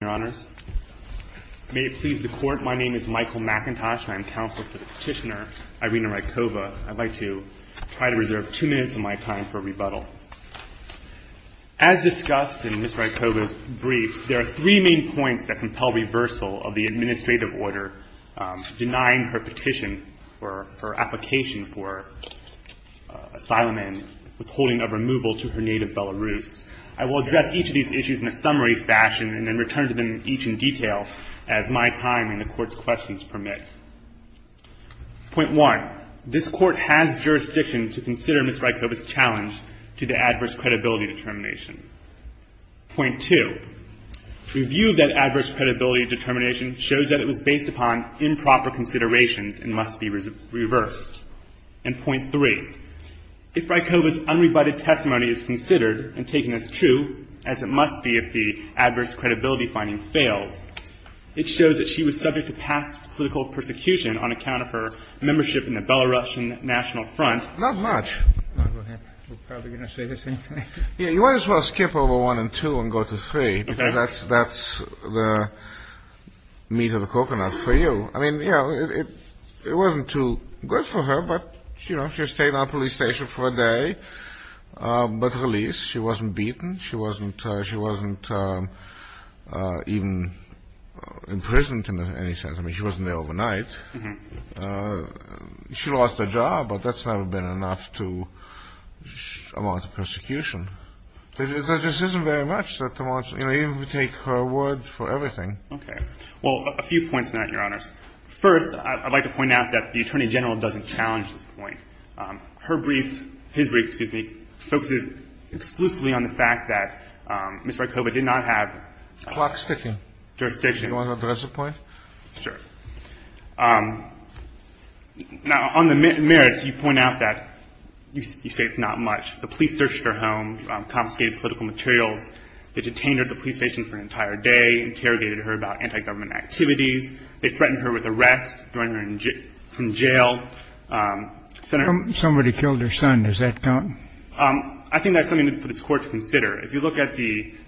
As discussed in Ms. Rykova's briefs, there are three main points that compel reversal of the administrative order denying her petition for her application for asylum and withholding of removal to her native Belarus. I will address each of these issues in a summary fashion and then return to them each in detail as my time and the Court's questions permit. Point one, this Court has jurisdiction to consider Ms. Rykova's challenge to the adverse credibility determination. Point two, review of that adverse credibility determination shows that it was based upon improper considerations and must be reversed. And point three, if Rykova's unrebutted testimony is considered and taken as true, as it must be if the adverse credibility finding fails, it shows that she was subject to past political persecution on account of her membership in the Belarusian National Front. Not much. We're probably going to say the same thing. Yeah, you might as well skip over one and two and go to three because that's the meat of the coconut for you. I mean, you know, it wasn't too good for her. But, you know, she stayed on police station for a day. But at least she wasn't beaten. She wasn't she wasn't even imprisoned in any sense. I mean, she wasn't there overnight. She lost her job, but that's never been enough to amount to persecution. This isn't very much that much, you know, even if we take her words for everything. Okay. Well, a few points on that, Your Honors. First, I'd like to point out that the Attorney General doesn't challenge this point. Her brief, his brief, excuse me, focuses exclusively on the fact that Ms. Rykova did not have jurisdiction. Do you want to address the point? Sure. Now, on the merits, you point out that you say it's not much. The police searched her home, confiscated political materials, the detained her at the anti-government activities. They threatened her with arrest, thrown her in jail. Somebody killed her son. Does that count? I think that's something for this Court to consider. If you look at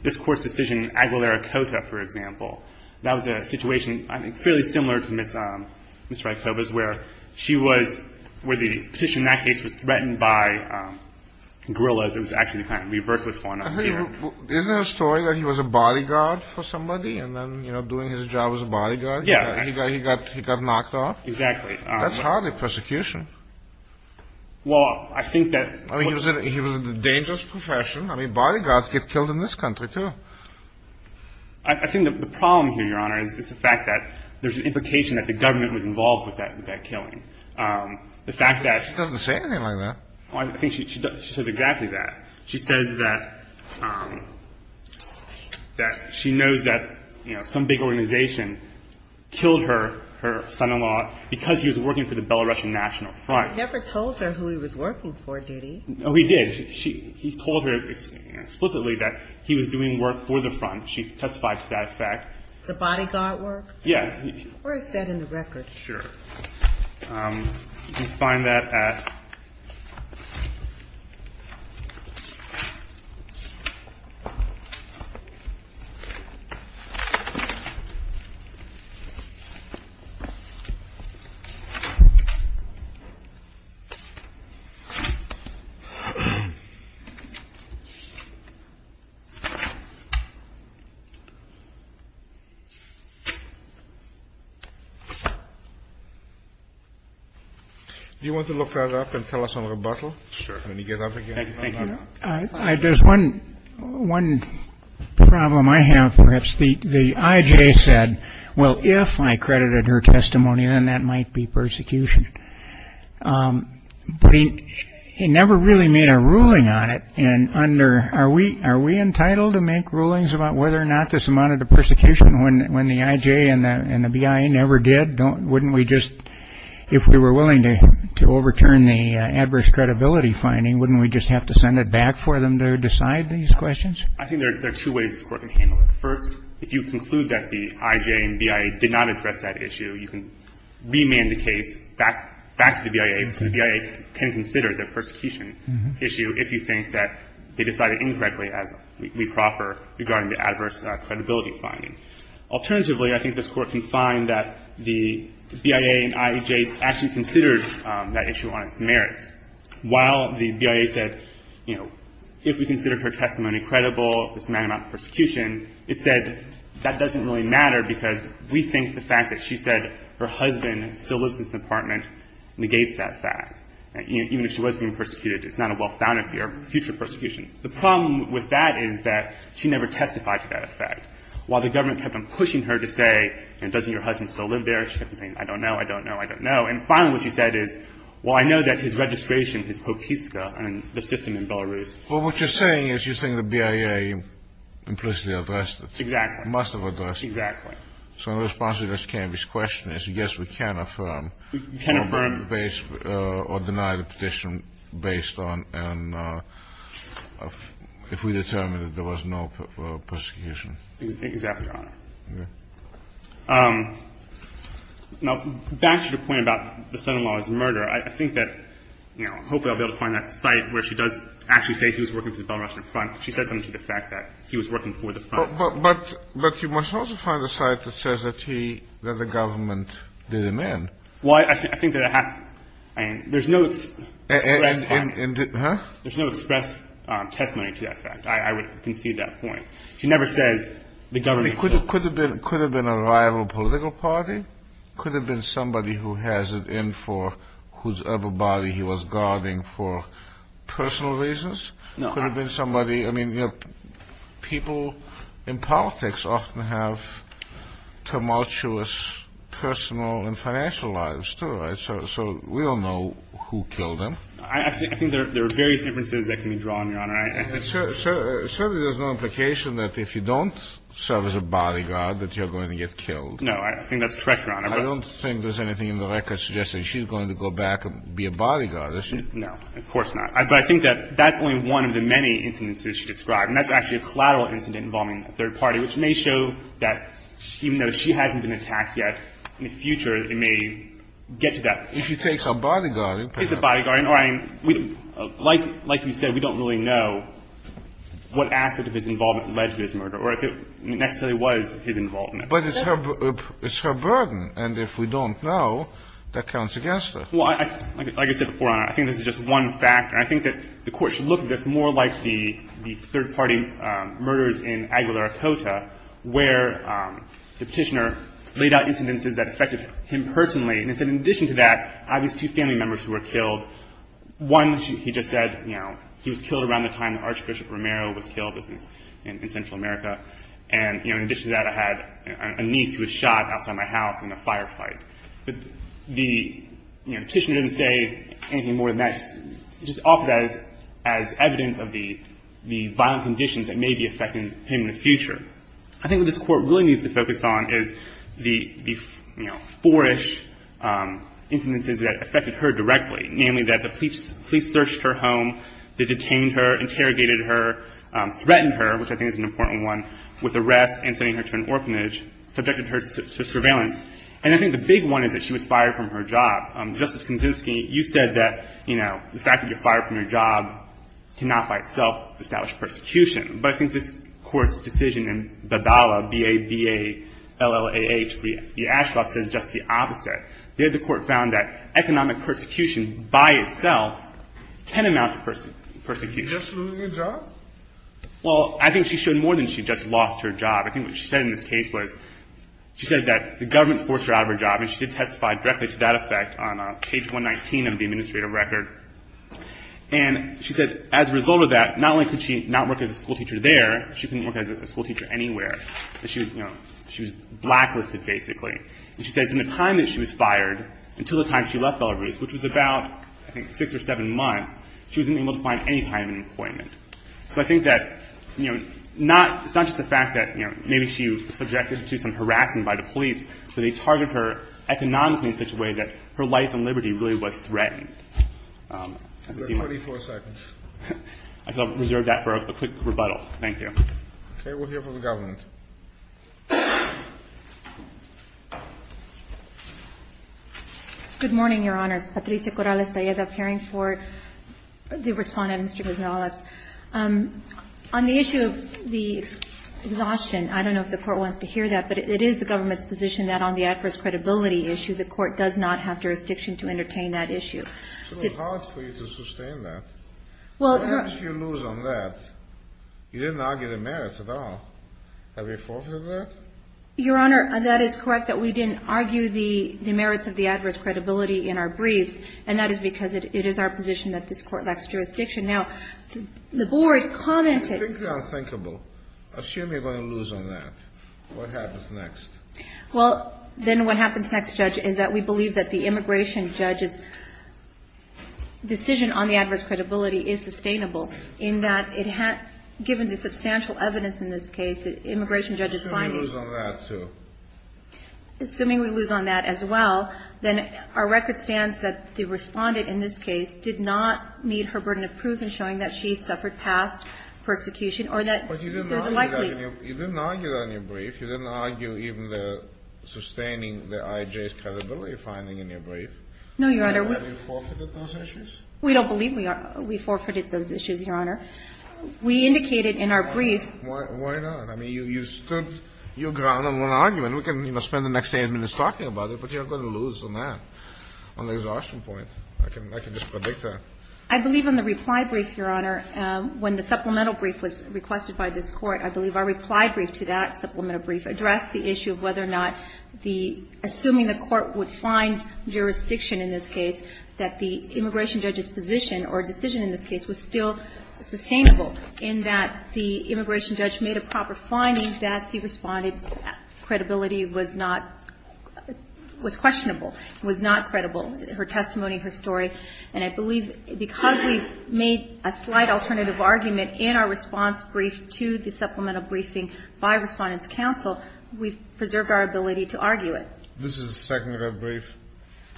this Court's decision in Aguilera-Cota, for example, that was a situation fairly similar to Ms. Rykova's, where she was, where the petition in that case was threatened by guerrillas. It was actually kind of reverse what's going on here. Isn't it a story that he was a bodyguard for somebody, and then, you know, doing his job as a bodyguard? Yeah. He got knocked off? Exactly. That's hardly persecution. Well, I think that... I mean, he was in a dangerous profession. I mean, bodyguards get killed in this country, too. I think the problem here, Your Honor, is the fact that there's an implication that the government was involved with that killing. The fact that... She doesn't say anything like that. I think she says exactly that. She says that she knows that, you know, some big organization killed her, her son-in-law, because he was working for the Belarusian National Front. But he never told her who he was working for, did he? Oh, he did. She... He told her explicitly that he was doing work for the Front. She testified to that fact. The bodyguard work? Yes. Where is that in the record? Sure. Um, you can find that at... Do you want to look further up and tell us on rebuttal? Sure. Let me get up again. Thank you. Thank you. There's one problem I have, perhaps. The I.J. said, well, if I credited her testimony, then that might be persecution. But he never really made a ruling on it. And under... Are we entitled to make rulings about whether or not this amounted to persecution when the I.J. and the B.I. never did? Wouldn't we just... If we were willing to overturn the adverse credibility finding, wouldn't we just have to send it back for them to decide these questions? I think there are two ways this Court can handle it. First, if you conclude that the I.J. and B.I. did not address that issue, you can remand the case back to the B.I.A. So the B.I.A. can consider the persecution issue if you think that they decided incorrectly, as we proffer, regarding the adverse credibility finding. Alternatively, I think this Court can find that the B.I.A. and I.J. actually considered that issue on its merits. While the B.I.A. said, you know, if we considered her testimony credible, this amount of persecution, it said that doesn't really matter because we think the fact that she said her husband still lives in this apartment negates that fact. Even if she was being persecuted, it's not a well-founded fear of future persecution. The problem with that is that she never testified to that effect. While the government kept on pushing her to say, you know, doesn't your husband still live there? She kept on saying, I don't know, I don't know, I don't know. And finally, what she said is, well, I know that his registration is Pokiska and the system in Belarus. Well, what you're saying is you think the B.I.A. implicitly addressed it. Exactly. Must have addressed it. Exactly. So in response to Ms. Canvey's question is, yes, we can affirm or deny the petition based on if we determined that there was no persecution. Exactly, Your Honor. Now, back to your point about the son-in-law's murder, I think that, you know, hopefully I'll be able to find that site where she does actually say he was working for the Belarusian Front. She said something to the fact that he was working for the Front. But you must also find a site that says that he, that the government did him in. Well, I think that it has, I mean, there's no express testimony to that fact. I would concede that point. She never says the government. Could have been a rival political party. Could have been somebody who has it in for whose upper body he was guarding for personal reasons. No. Could have been somebody. I mean, people in politics often have tumultuous personal and financial lives, too, right? So we don't know who killed him. I think there are various inferences that can be drawn, Your Honor. Certainly there's no implication that if you don't serve as a bodyguard that you're going to get killed. No, I think that's correct, Your Honor. I don't think there's anything in the record suggesting she's going to go back and be a bodyguard, is she? No, of course not. But I think that that's only one of the many incidents that she described. And that's actually a collateral incident involving a third party, which may show that even though she hasn't been attacked yet, in the future it may get to that point. If she takes a bodyguarding position. All right. Like you said, we don't really know what aspect of his involvement led to his murder or if it necessarily was his involvement. But it's her burden. And if we don't know, that counts against her. Well, like I said before, Your Honor, I think this is just one fact. And I think that the Court should look at this more like the third party murders in Aguilar Acota, where the Petitioner laid out incidences that affected him personally. And so in addition to that, I have these two family members who were killed. One, he just said, you know, he was killed around the time that Archbishop Romero was killed in Central America. And in addition to that, I had a niece who was shot outside my house in a firefight. But the Petitioner didn't say anything more than that. He just offered that as evidence of the violent conditions that may be affecting him in the future. I think what this Court really needs to focus on is the, you know, four-ish incidences that affected her directly, namely that the police searched her home, they detained her, interrogated her, threatened her, which I think is an important one, with arrest and sending her to an orphanage, subjected her to surveillance. And I think the big one is that she was fired from her job. Justice Kaczynski, you said that, you know, the fact that you're fired from your job cannot by itself establish persecution. But I think this Court's decision in the DALA, B-A-B-A-L-L-A-H, the Ashcroft says just the opposite. There, the Court found that economic persecution by itself can amount to persecution. Just losing your job? Well, I think she showed more than she just lost her job. I think what she said in this case was, she said that the government forced her out of her job. And she did testify directly to that effect on page 119 of the administrative record. And she said, as a result of that, not only could she not work as a school teacher there, she couldn't work as a school teacher anywhere. She was blacklisted, basically. And she said from the time that she was fired until the time she left Belarus, which was about, I think, six or seven months, she wasn't able to find any kind of employment. So I think that, you know, it's not just the fact that, you know, maybe she was subjected to some harassing by the police, but they targeted her economically in such a way that her life and liberty really was threatened. I'll reserve that for a quick rebuttal. Thank you. Okay. We'll hear from the government. Good morning, Your Honors. Patricia Corrales-Talleda appearing for the Respondent, Mr. Gonzalez. On the issue of the exhaustion, I don't know if the Court wants to hear that, but it is the government's position that on the adverse credibility issue, the Court does not have jurisdiction to entertain that issue. So it's hard for you to sustain that. Well, perhaps you lose on that. You didn't argue the merits at all. Have you forfeited that? Your Honor, that is correct, that we didn't argue the merits of the adverse credibility in our briefs. And that is because it is our position that this Court lacks jurisdiction. Now, the Board commented... I think they're unthinkable. Assume you're going to lose on that. What happens next? Well, then what happens next, Judge, is that we believe that the immigration judge's decision on the adverse credibility is sustainable, in that given the substantial evidence in this case, the immigration judge's findings... Assuming we lose on that, too. Assuming we lose on that as well, then our record stands that the Respondent in this case did not meet her burden of proof in showing that she suffered past persecution or that there's a likely... You didn't argue that in your brief. You didn't argue even the sustaining the IJ's credibility finding in your brief. No, Your Honor. Have you forfeited those issues? We don't believe we forfeited those issues, Your Honor. We indicated in our brief... Why not? I mean, you stood your ground on one argument. We can spend the next 10 minutes talking about it, but you're going to lose on that, on the exhaustion point. I can just predict that. I believe in the reply brief, Your Honor, when the supplemental brief was requested by this Court, I believe our reply brief to that supplemental brief addressed the issue of whether or not the... Assuming the Court would find jurisdiction in this case, that the immigration judge's position or decision in this case was still sustainable in that the immigration judge made a proper finding that the Respondent's credibility was not... Was questionable, was not credible, her testimony, her story. And I believe because we made a slight alternative argument in our response brief to the supplemental briefing by Respondent's counsel, we've preserved our ability to argue it. This is a second rep brief?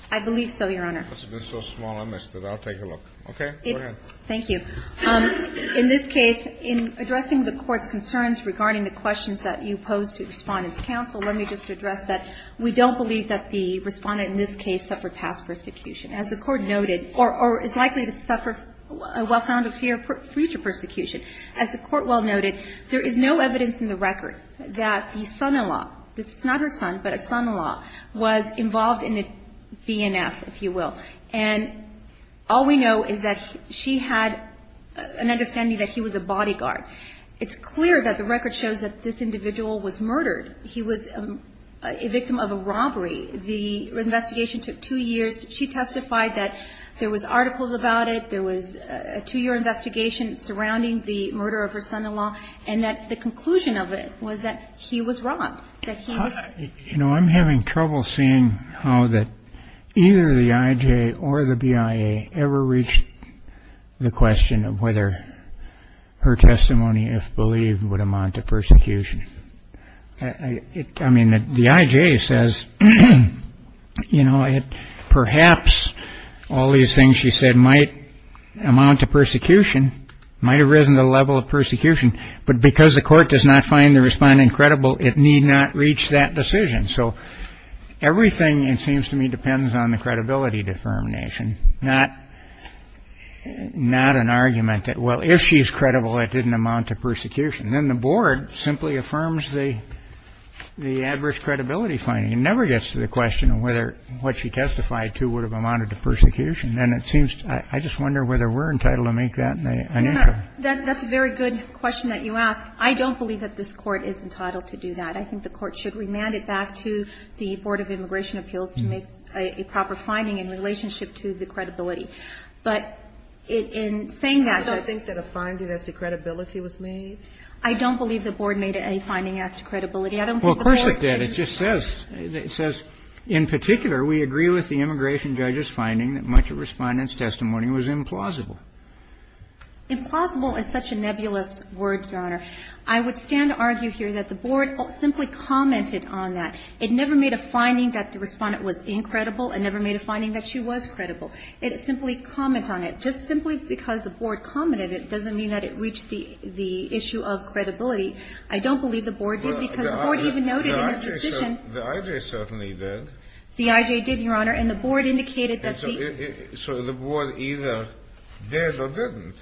I believe so, Your Honor. This has been so small, I missed it. I'll take a look. Okay, go ahead. Thank you. In this case, in addressing the Court's concerns regarding the questions that you posed to Respondent's counsel, let me just address that we don't believe that the Respondent in this case suffered past persecution, as the Court noted, or is likely to suffer a well-founded fear of future persecution. As the Court well noted, there is no evidence in the record that the son-in-law, this is not her son, but a son-in-law, was involved in the BNF, if you will. And all we know is that she had an understanding that he was a bodyguard. It's clear that the record shows that this individual was murdered. He was a victim of a robbery. The investigation took two years. She testified that there was articles about it, there was a two-year investigation surrounding the murder of her son-in-law, and that the conclusion of it was that he was wrong, that he was. You know, I'm having trouble seeing how that either the IJ or the BIA ever reached the question of whether her testimony, if believed, would amount to persecution. I mean, the IJ says, you know, perhaps all these things she said might amount to might have risen to the level of persecution, but because the Court does not find the respondent credible, it need not reach that decision. So everything, it seems to me, depends on the credibility defamation, not an argument that, well, if she's credible, it didn't amount to persecution. Then the Board simply affirms the adverse credibility finding. It never gets to the question of whether what she testified to would have amounted to persecution. And it seems to me, I just wonder whether we're entitled to make that an answer. That's a very good question that you ask. I don't believe that this Court is entitled to do that. I think the Court should remand it back to the Board of Immigration Appeals to make a proper finding in relationship to the credibility. But in saying that, I don't think that a finding as to credibility was made. I don't believe the Board made any finding as to credibility. I don't think the Board made any finding as to credibility. Well, of course it did. It just says, it says, in particular, we agree with the immigration judge's testimony that much of the Respondent's testimony was implausible. Implausible is such a nebulous word, Your Honor. I would stand to argue here that the Board simply commented on that. It never made a finding that the Respondent was incredible. It never made a finding that she was credible. It simply commented on it. Just simply because the Board commented, it doesn't mean that it reached the issue of credibility. I don't believe the Board did, because the Board even noted in its decision The IJ certainly did. The IJ did, Your Honor. And the Board indicated that the So the Board either did or didn't.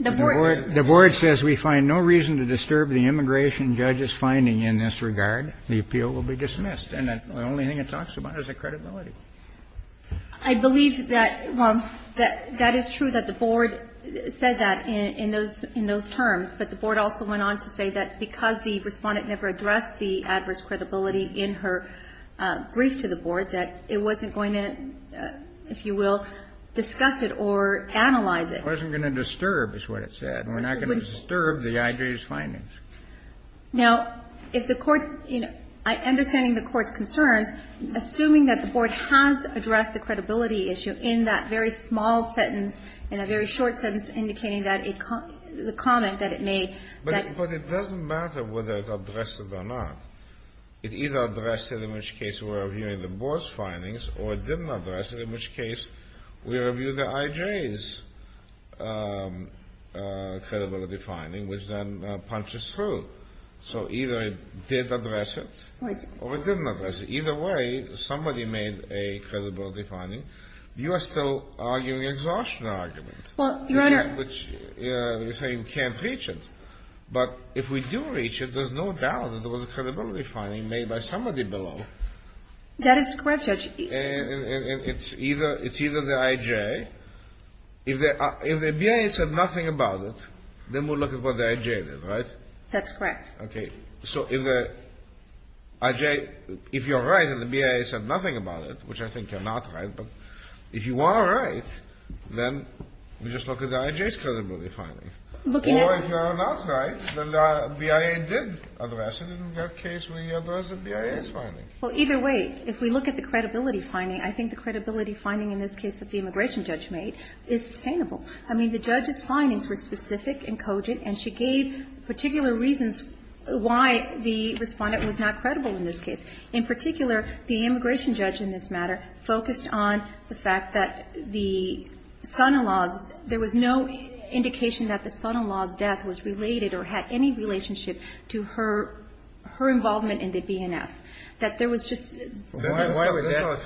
The Board The Board says we find no reason to disturb the immigration judge's finding in this regard. The appeal will be dismissed. And the only thing it talks about is the credibility. I believe that, well, that is true, that the Board said that in those terms. But the Board also went on to say that because the Respondent never addressed the adverse credibility in her brief to the Board, that it wasn't going to, if you will, discuss it or analyze it. Kennedy I wasn't going to disturb, is what it said. We're not going to disturb the IJ's findings. Now, if the Court, you know, understanding the Court's concerns, assuming that the Board has addressed the credibility issue in that very small sentence, in a very short sentence, indicating that the comment that it made, that the Board has addressed it or not, it either addressed it, in which case we're reviewing the Board's findings, or it didn't address it, in which case we review the IJ's credibility finding, which then punches through. So either it did address it or it didn't address it. Either way, somebody made a credibility finding. You are still arguing an exhaustion argument, which you're saying can't reach it. But if we do reach it, there's no doubt that there was a credibility finding made by somebody below. That is correct, Judge. And it's either the IJ, if the BIA said nothing about it, then we'll look at what the IJ did, right? That's correct. Okay. So if the IJ, if you're right and the BIA said nothing about it, which I think you're not right, but if you are right, then we just look at the IJ's credibility finding. Or if you are not right, the BIA did address it, in which case we address the BIA's findings. Well, either way, if we look at the credibility finding, I think the credibility finding in this case that the immigration judge made is sustainable. I mean, the judge's findings were specific and cogent, and she gave particular reasons why the Respondent was not credible in this case. In particular, the immigration judge in this matter focused on the fact that the son-in-law's there was no indication that the son-in-law's death was related or had any relationship to her involvement in the BNF, that there was just why would that go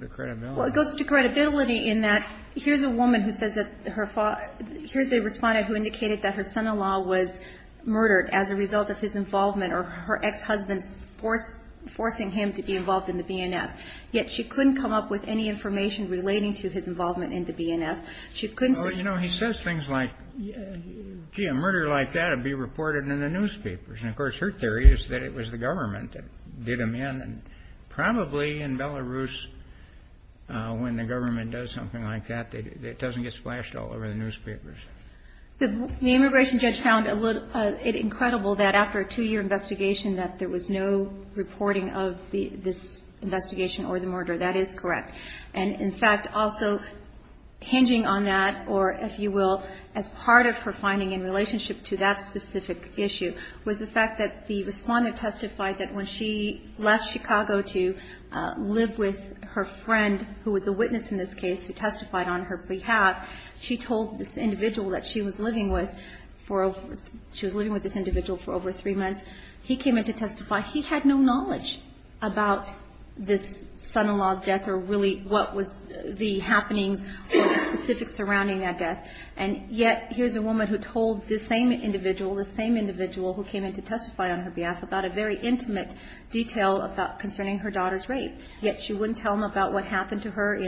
to credibility? Well, it goes to credibility in that here's a woman who says that her father here's a Respondent who indicated that her son-in-law was murdered as a result of his involvement or her ex-husband's forcing him to be involved in the BNF, yet she couldn't come up with any information relating to his involvement in the BNF. She couldn't say something like that. Well, you know, he says things like, gee, a murder like that would be reported in the newspapers. And, of course, her theory is that it was the government that did him in. And probably in Belarus, when the government does something like that, it doesn't get splashed all over the newspapers. The immigration judge found it incredible that after a two-year investigation that there was no reporting of this investigation or the murder. That is correct. And, in fact, also hinging on that or, if you will, as part of her finding in relationship to that specific issue was the fact that the Respondent testified that when she left Chicago to live with her friend, who was a witness in this case, who testified on her behalf, she told this individual that she was living with for over three months. He came in to testify. He had no knowledge about this son-in-law's death or really what was the happenings or the specifics surrounding that death. And yet here's a woman who told this same individual, this same individual who came in to testify on her behalf, about a very intimate detail about concerning her daughter's rape. Yet she wouldn't tell him about what happened to her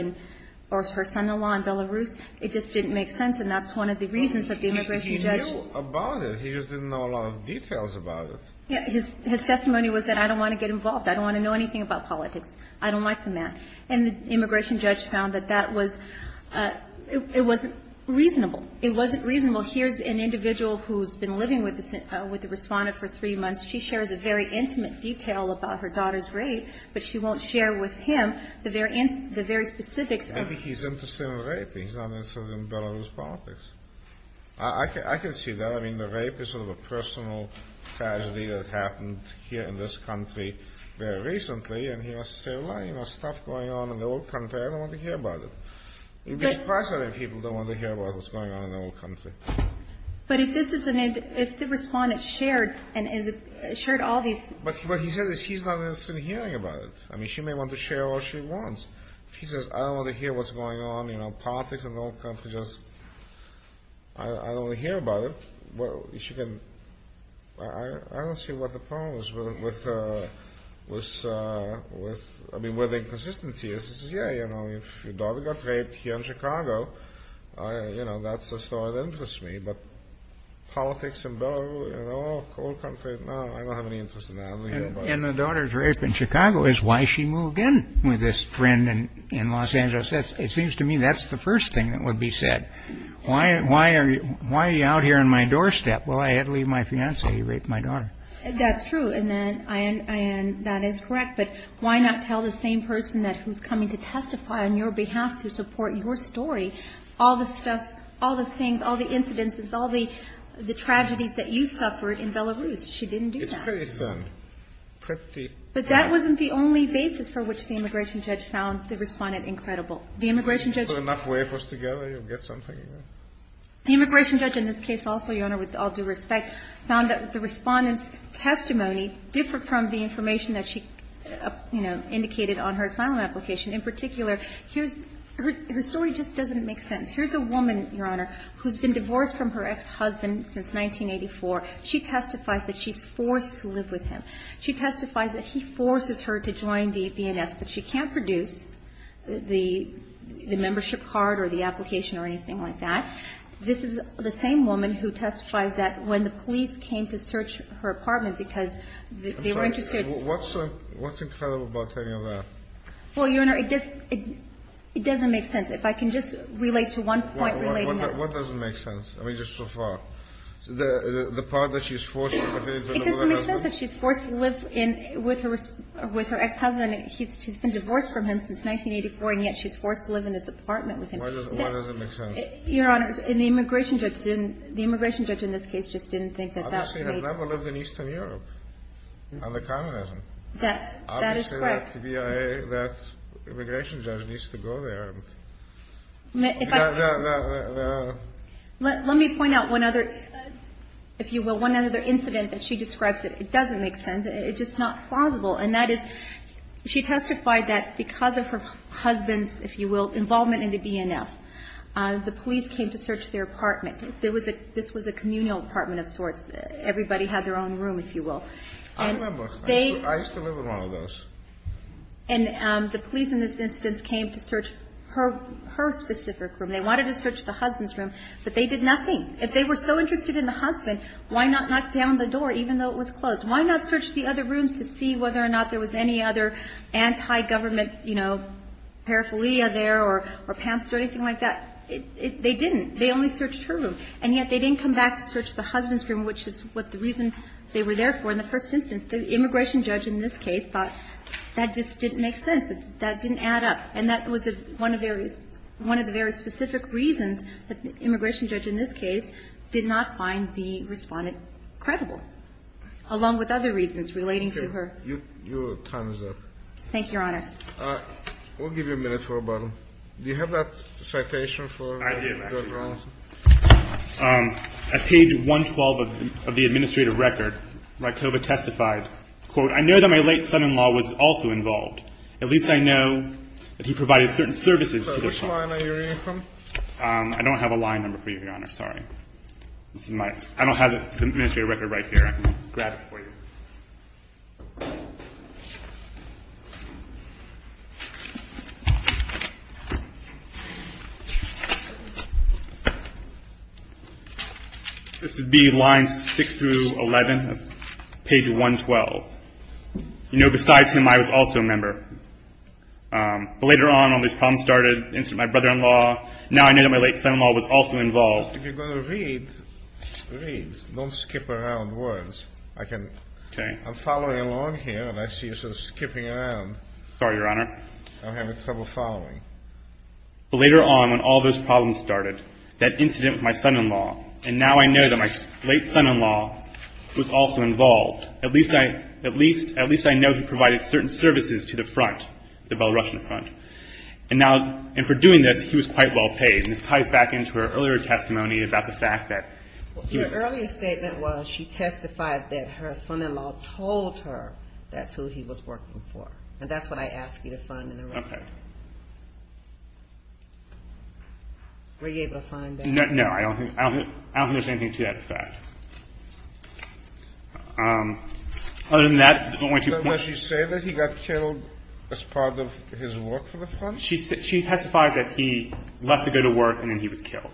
or her son-in-law in Belarus. It just didn't make sense. And that's one of the reasons that the immigration judge… He knew about it. He just didn't know a lot of details about it. His testimony was that, I don't want to get involved. I don't want to know anything about politics. I don't like the man. And the immigration judge found that that was – it wasn't reasonable. It wasn't reasonable. Here's an individual who's been living with the Respondent for three months. She shares a very intimate detail about her daughter's rape, but she won't share with him the very specifics of it. I think he's interested in raping. He's not interested in Belarus politics. I can see that. I mean, the rape is sort of a personal tragedy that happened here in this country very recently, and he wants to say, well, you know, stuff going on in the old country. I don't want to hear about it. It would be a problem if people don't want to hear about what's going on in the old country. But if this is an – if the Respondent shared and shared all these… But what he said is he's not interested in hearing about it. I mean, she may want to share all she wants. If he says, I don't want to hear what's going on, you know, politics in the old country, just – I don't want to hear about it. Well, she can – I don't see what the problem is with – I mean, where the inconsistency is. He says, yeah, you know, if your daughter got raped here in Chicago, you know, that's a story that interests me. But politics in Belarus, you know, old country, no, I don't have any interest in that. And the daughter's rape in Chicago is why she moved in with this friend in Los Angeles. It seems to me that's the first thing that would be said. Why are you out here on my doorstep? Well, I had to leave my fiancé. He raped my daughter. That's true. And then, Ayaan, that is correct. But why not tell the same person that – who's coming to testify on your behalf to support your story? All the stuff – all the things, all the incidences, all the tragedies that you suffered in Belarus. She didn't do that. It's pretty fun. Pretty fun. But that wasn't the only basis for which the immigration judge found the Respondent incredible. The immigration judge – Put enough wafers together, you'll get something. The immigration judge in this case also, Your Honor, with all due respect, found that the Respondent's testimony differed from the information that she, you know, indicated on her asylum application. In particular, here's – her story just doesn't make sense. Here's a woman, Your Honor, who's been divorced from her ex-husband since 1984. She testifies that she's forced to live with him. She testifies that he forces her to join the BNF, but she can't produce the – the membership card or the application or anything like that. This is the same woman who testifies that when the police came to search her apartment because they were interested – I'm sorry. What's the – what's incredible about any of that? Well, Your Honor, it just – it doesn't make sense. If I can just relate to one point relating that. What doesn't make sense? I mean, just so far. The part that she's forced to live with him. It doesn't make sense that she's forced to live in – with her – with her ex-husband. He's – she's been divorced from him since 1984, and yet she's forced to live in this apartment with him. Why does it – why does it make sense? Your Honor, the immigration judge didn't – the immigration judge in this case just didn't think that that would make – Obviously, that's not what lived in Eastern Europe on the communism. That's – that is correct. Obviously, that's the BIA – that immigration judge needs to go there. If I – Let me point out one other, if you will, one other incident that she described that it doesn't make sense. It's just not plausible, and that is she testified that because of her husband's, if you will, involvement in the BNF, the police came to search their apartment. There was a – this was a communal apartment of sorts. Everybody had their own room, if you will. I remember. I used to live in one of those. And the police in this instance came to search her – her specific room. They wanted to search the husband's room, but they did nothing. If they were so interested in the husband, why not knock down the door, even though it was closed? Why not search the other rooms to see whether or not there was any other anti-government, you know, paraphernalia there or – or pants or anything like that? They didn't. They only searched her room. And yet, they didn't come back to search the husband's room, which is what the reason they were there for in the first instance. The immigration judge in this case thought that just didn't make sense, that that didn't add up. And that was one of the very – one of the very specific reasons that the immigration judge in this case did not find the Respondent credible, along with other reasons relating to her. Your time is up. Thank you, Your Honor. We'll give you a minute for a button. Do you have that citation for your grounds? I do, Your Honor. At page 112 of the administrative record, Rykova testified, quote, I know that my late son-in-law was also involved. At least I know that he provided certain services to the family. I'm sorry. I'm sorry. I'm sorry. I'm sorry. I'm sorry. I'm sorry. I'm sorry. I'm sorry. I'm sorry. I'm sorry. I'm sorry. I'm sorry. Your Honor, I'm sorry. This is my – I don't have the administrative record right here. I can grab it for you. This would be lines 6 through 11 of page 112. You know, besides him, I was also a member. But later on, all these problems started. Now I know that my late son-in-law was also involved. If you're going to read, read. Don't skip around words. I can – I'm following along here, and I see you're sort of skipping around. Sorry, Your Honor. I'm having trouble following. Later on, when all those problems started, that incident with my son-in-law, and now I know that my late son-in-law was also involved. At least I know he provided certain services to the front, the Belarusian front. And now – and for doing this, he was quite well paid. And this ties back into her earlier testimony about the fact that he was – Your earlier statement was she testified that her son-in-law told her that's who he was working for. And that's what I asked you to find in the record. Okay. Were you able to find that? No, I don't think there's anything to that fact. Other than that, I don't want you to point – Does she say that he got killed as part of his work for the front? She testified that he left to go to work, and then he was killed.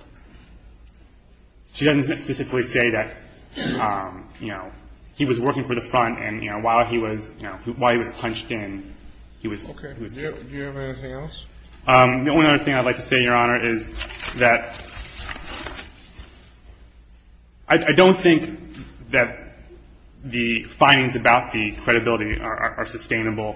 She doesn't specifically say that, you know, he was working for the front, and, you know, while he was – you know, while he was punched in, he was killed. Okay. Do you have anything else? The only other thing I'd like to say, Your Honor, is that I don't think that the findings about the credibility are sustainable.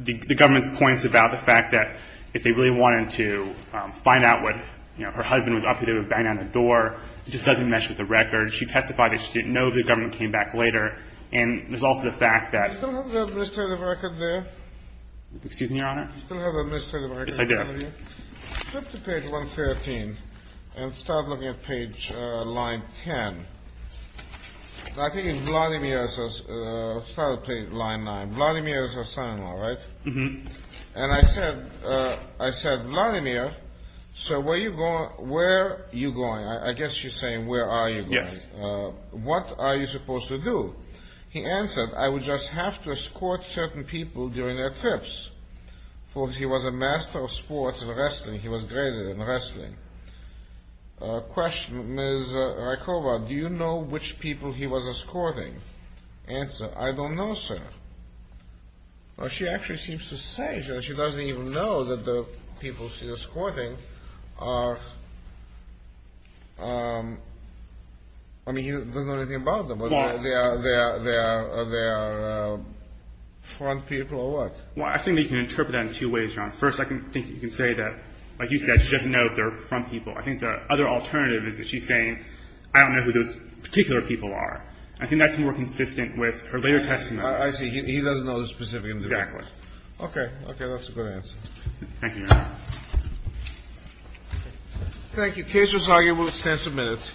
The government's points about the fact that if they really wanted to find out what, you know, her husband was up to, they would bang on the door. It just doesn't mesh with the record. She testified that she didn't know the government came back later. And there's also the fact that – Do you still have the administrative record there? Do you still have the administrative record there? Yes, I do. Flip to page 113 and start looking at page – line 10. I think it's Vladimir's – start with line 9. Vladimir is her son-in-law, right? Mm-hmm. And I said, I said, Vladimir, so where are you going? I guess she's saying where are you going. Yes. What are you supposed to do? He answered, I would just have to escort certain people during their trips, for he was a master of sports and wrestling. He was great at wrestling. Question, Ms. Rykova, do you know which people he was escorting? Answer, I don't know, sir. Well, she actually seems to say she doesn't even know that the people she's escorting are – I mean, he doesn't know anything about them. Well – They are – they are – they are front people or what? Well, I think you can interpret that in two ways, Your Honor. First, I think you can say that, like you said, she doesn't know if they're front people. I think the other alternative is that she's saying, I don't know who those particular people are. I think that's more consistent with her later testimony. I see. He doesn't know the specific individuals. Exactly. Okay. Okay. That's a good answer. Thank you, Your Honor. Thank you. The case was argued with extensive minutes.